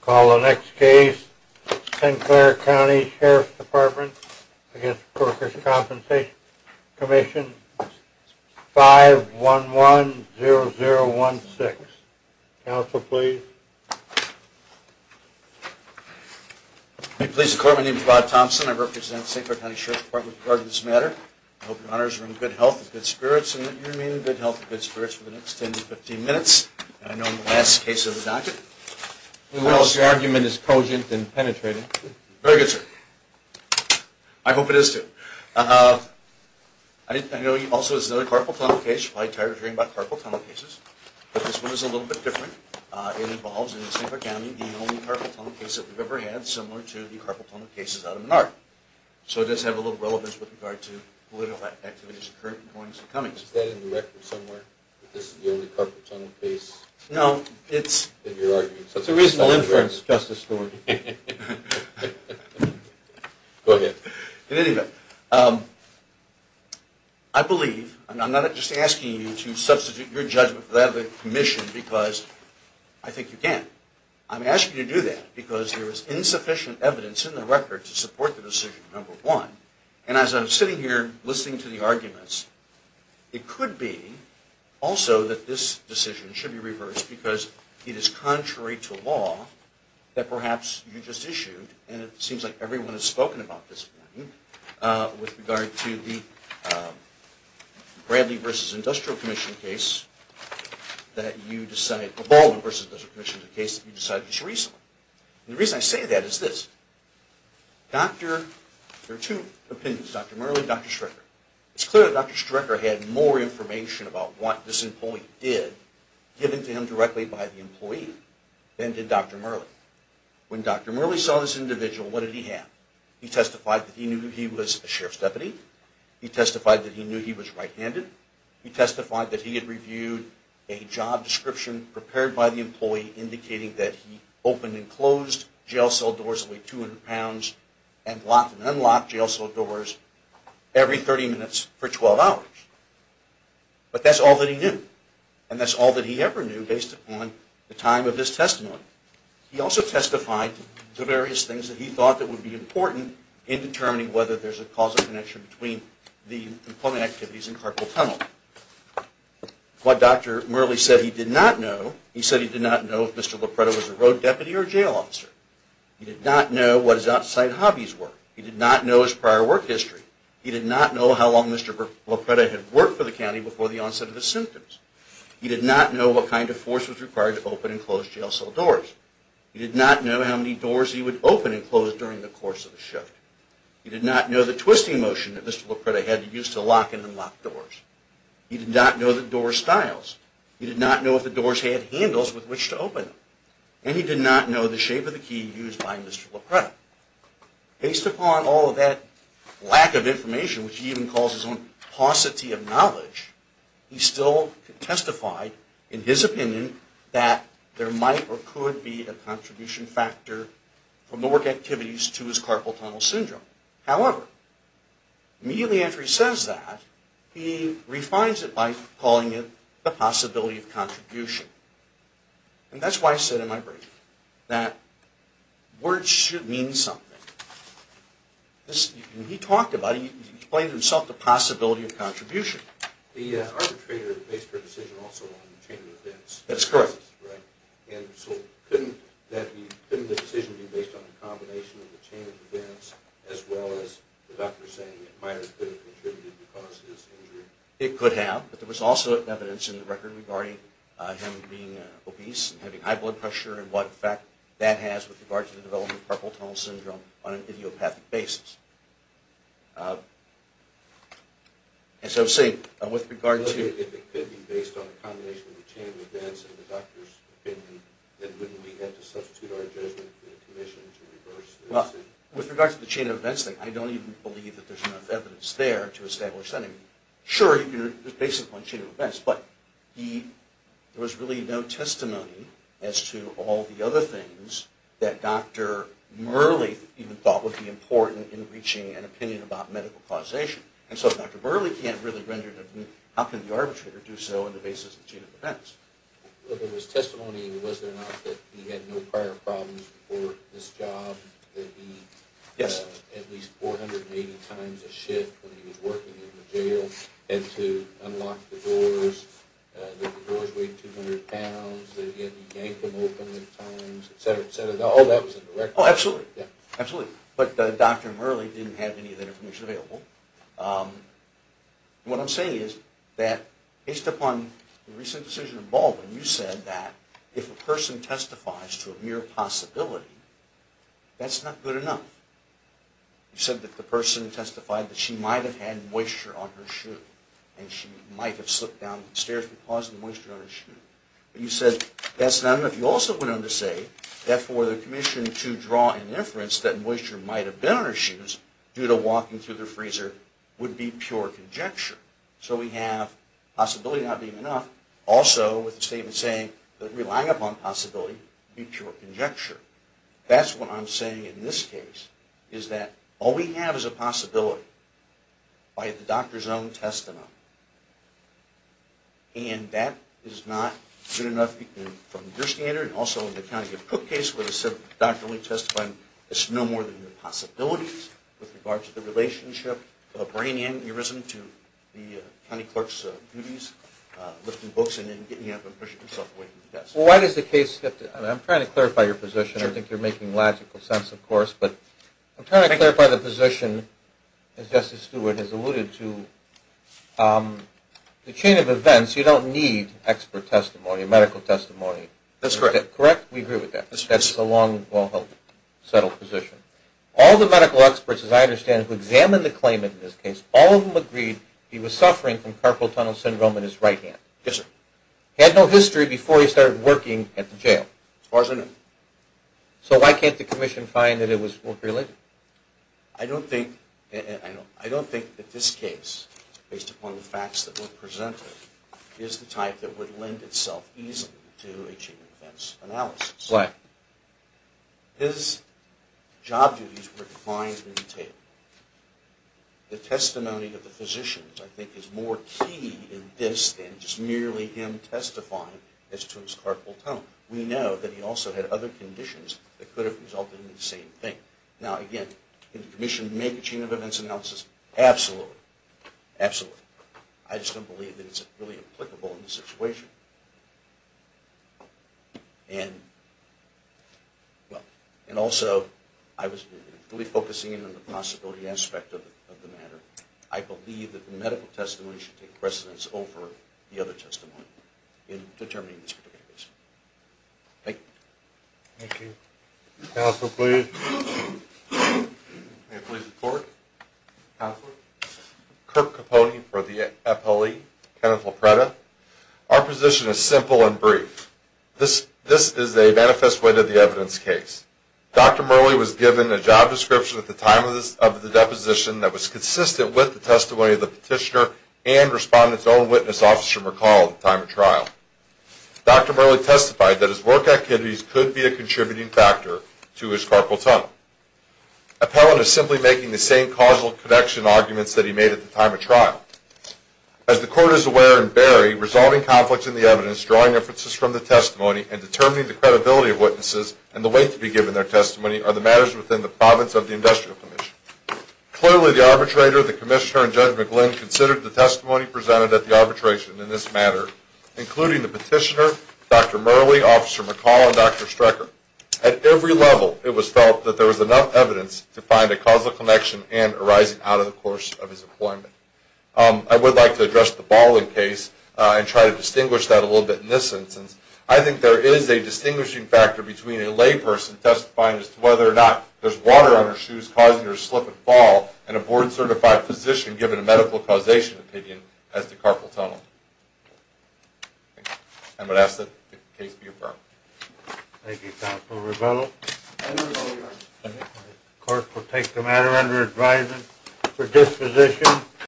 Call the next case. St. Clair County Sheriff's Department v. Workers' Compensation Commission 5110016. Council, please. May it please the Court, my name is Rod Thompson. I represent St. Clair County Sheriff's Department for this matter. I hope your honors are in good health and good spirits and that you remain in good health and good spirits for the next 10 to 15 minutes. I know the last case of the docket. Who else? Your argument is cogent and penetrating. Very good, sir. I hope it is, too. I know also there's another carpal tunnel case. You're probably tired of hearing about carpal tunnel cases. But this one is a little bit different. It involves, in St. Clair County, the only carpal tunnel case that we've ever had, similar to the carpal tunnel cases out of Menard. So it does have a little relevance with regard to political activities occurring in the corners of Cummings. Is that in the record somewhere, that this is the only carpal tunnel case that you're arguing? No, it's a reasonable inference, Justice Stewart. Go ahead. In any event, I believe, and I'm not just asking you to substitute your judgment for that of the commission, because I think you can. I'm asking you to do that because there is insufficient evidence in the record to support the decision, number one. And as I'm sitting here listening to the arguments, it could be also that this decision should be reversed, because it is contrary to law that perhaps you just issued, and it seems like everyone has spoken about this one, with regard to the Baldwin v. Industrial Commission case that you decided just recently. The reason I say that is this. There are two opinions, Dr. Murley and Dr. Strecker. It's clear that Dr. Strecker had more information about what this employee did, given to him directly by the employee, than did Dr. Murley. When Dr. Murley saw this individual, what did he have? He testified that he knew he was a sheriff's deputy. He testified that he knew he was right-handed. He testified that he had reviewed a job description prepared by the employee indicating that he opened and closed jail cell doors that weighed 200 pounds and locked and unlocked jail cell doors every 30 minutes for 12 hours. But that's all that he knew, and that's all that he ever knew based upon the time of this testimony. He also testified to various things that he thought that would be important in determining whether there's a causal connection between the employment activities and carpal tunnel. What Dr. Murley said he did not know, he said he did not know if Mr. Lopretta was a road deputy or a jail officer. He did not know what his outside hobbies were. He did not know his prior work history. He did not know how long Mr. Lopretta had worked for the county before the onset of his symptoms. He did not know what kind of force was required to open and close jail cell doors. He did not know how many doors he would open and close during the course of the shift. He did not know the twisting motion that Mr. Lopretta had to use to lock and unlock doors. He did not know the door styles. He did not know if the doors had handles with which to open them. And he did not know the shape of the key used by Mr. Lopretta. Based upon all of that lack of information, which he even calls his own paucity of knowledge, he still testified in his opinion that there might or could be a contribution factor from the work activities to his carpal tunnel syndrome. However, immediately after he says that, he refines it by calling it the possibility of contribution. And that's why I said in my brief that words should mean something. When he talked about it, he explained to himself the possibility of contribution. The arbitrator makes their decision also on the chain of events. That's correct. And so couldn't the decision be based on the combination of the chain of events as well as the doctor saying it might or could have contributed to cause his injury? It could have. But there was also evidence in the record regarding him being obese and having high blood pressure and what effect that has with regard to the development of carpal tunnel syndrome on an idiopathic basis. As I was saying, with regard to... If it could be based on a combination of the chain of events and the doctor's opinion, then wouldn't we have to substitute our judgment in a commission to reverse the decision? Well, with regard to the chain of events thing, I don't even believe that there's enough evidence there to establish anything. Sure, it's based upon the chain of events, but there was really no testimony as to all the other things that Dr. Murley even thought would be important in reaching an opinion about medical causation. And so if Dr. Murley can't really render an opinion, how can the arbitrator do so on the basis of the chain of events? Well, there was testimony, was there not, that he had no prior problems before this job, that he had at least 480 times a shift when he was working in the jail, and to unlock the doors, that the doors weighed 200 pounds, that he had to yank them open at times, et cetera, et cetera. All that was in the record. Oh, absolutely, absolutely. But Dr. Murley didn't have any of that information available. What I'm saying is that based upon the recent decision in Baldwin, you said that if a person testifies to a mere possibility, that's not good enough. You said that the person testified that she might have had moisture on her shoe, but you said that's not enough. You also went on to say that for the commission to draw an inference that moisture might have been on her shoes due to walking through the freezer would be pure conjecture. So we have possibility not being enough, also with the statement saying that relying upon possibility would be pure conjecture. That's what I'm saying in this case, is that all we have is a possibility by the doctor's own testimony, and that is not good enough from your standard. Also, in the County of Cook case, where the doctor only testified, it's no more than a possibility with regard to the relationship of bringing in the resident to the county clerk's duties, lifting books, and then getting up and pushing himself away from the test. Well, why does the case get to – I'm trying to clarify your position. I think you're making logical sense, of course, but I'm trying to clarify the position, as Justice Stewart has alluded to, the chain of events. You don't need expert testimony, medical testimony. That's correct. Correct? We agree with that. That's a long, well-held, settled position. All the medical experts, as I understand, who examined the claimant in this case, all of them agreed he was suffering from carpal tunnel syndrome in his right hand. Yes, sir. He had no history before he started working at the jail. As far as I know. So why can't the commission find that it was work-related? I don't think that this case, based upon the facts that were presented, is the type that would lend itself easily to a chain of events analysis. Why? His job duties were defined in the table. The testimony of the physicians, I think, is more key in this than just merely him testifying as to his carpal tunnel. We know that he also had other conditions that could have resulted in the same thing. Now, again, can the commission make a chain of events analysis? Absolutely. Absolutely. I just don't believe that it's really applicable in this situation. And also, I was really focusing in on the possibility aspect of the matter. I believe that the medical testimony should take precedence over the other testimony in determining this particular case. Thank you. Thank you. Counsel, please. May I please report? Counselor? Kirk Capone for the FLE. Kenneth Lopretta. Our position is simple and brief. This is a manifest way to the evidence case. Dr. Murley was given a job description at the time of the deposition that was consistent with the testimony of the petitioner and respondent's own witness, Officer McCall, at the time of trial. Dr. Murley testified that his work activities could be a contributing factor to his carpal tunnel. Appellant is simply making the same causal connection arguments that he made at the time of trial. As the court is aware in Berry, resolving conflicts in the evidence, drawing inferences from the testimony, and determining the credibility of witnesses and the weight to be given their testimony are the matters within the province of the industrial commission. Clearly, the arbitrator, the commissioner, and Judge McGlynn considered the testimony presented at the arbitration in this matter, including the petitioner, Dr. Murley, Officer McCall, and Dr. Strecker. At every level, it was felt that there was enough evidence to find a causal connection and arising out of the course of his employment. I would like to address the Baldwin case and try to distinguish that a little bit in this instance. I think there is a distinguishing factor between a layperson testifying as to whether or not there's water on her shoes causing her to slip and fall and a board-certified physician giving a medical causation opinion as to carpal tunnel. I'm going to ask that the case be affirmed. Thank you, Counselor Revello. The court will take the matter under advisement for disposition.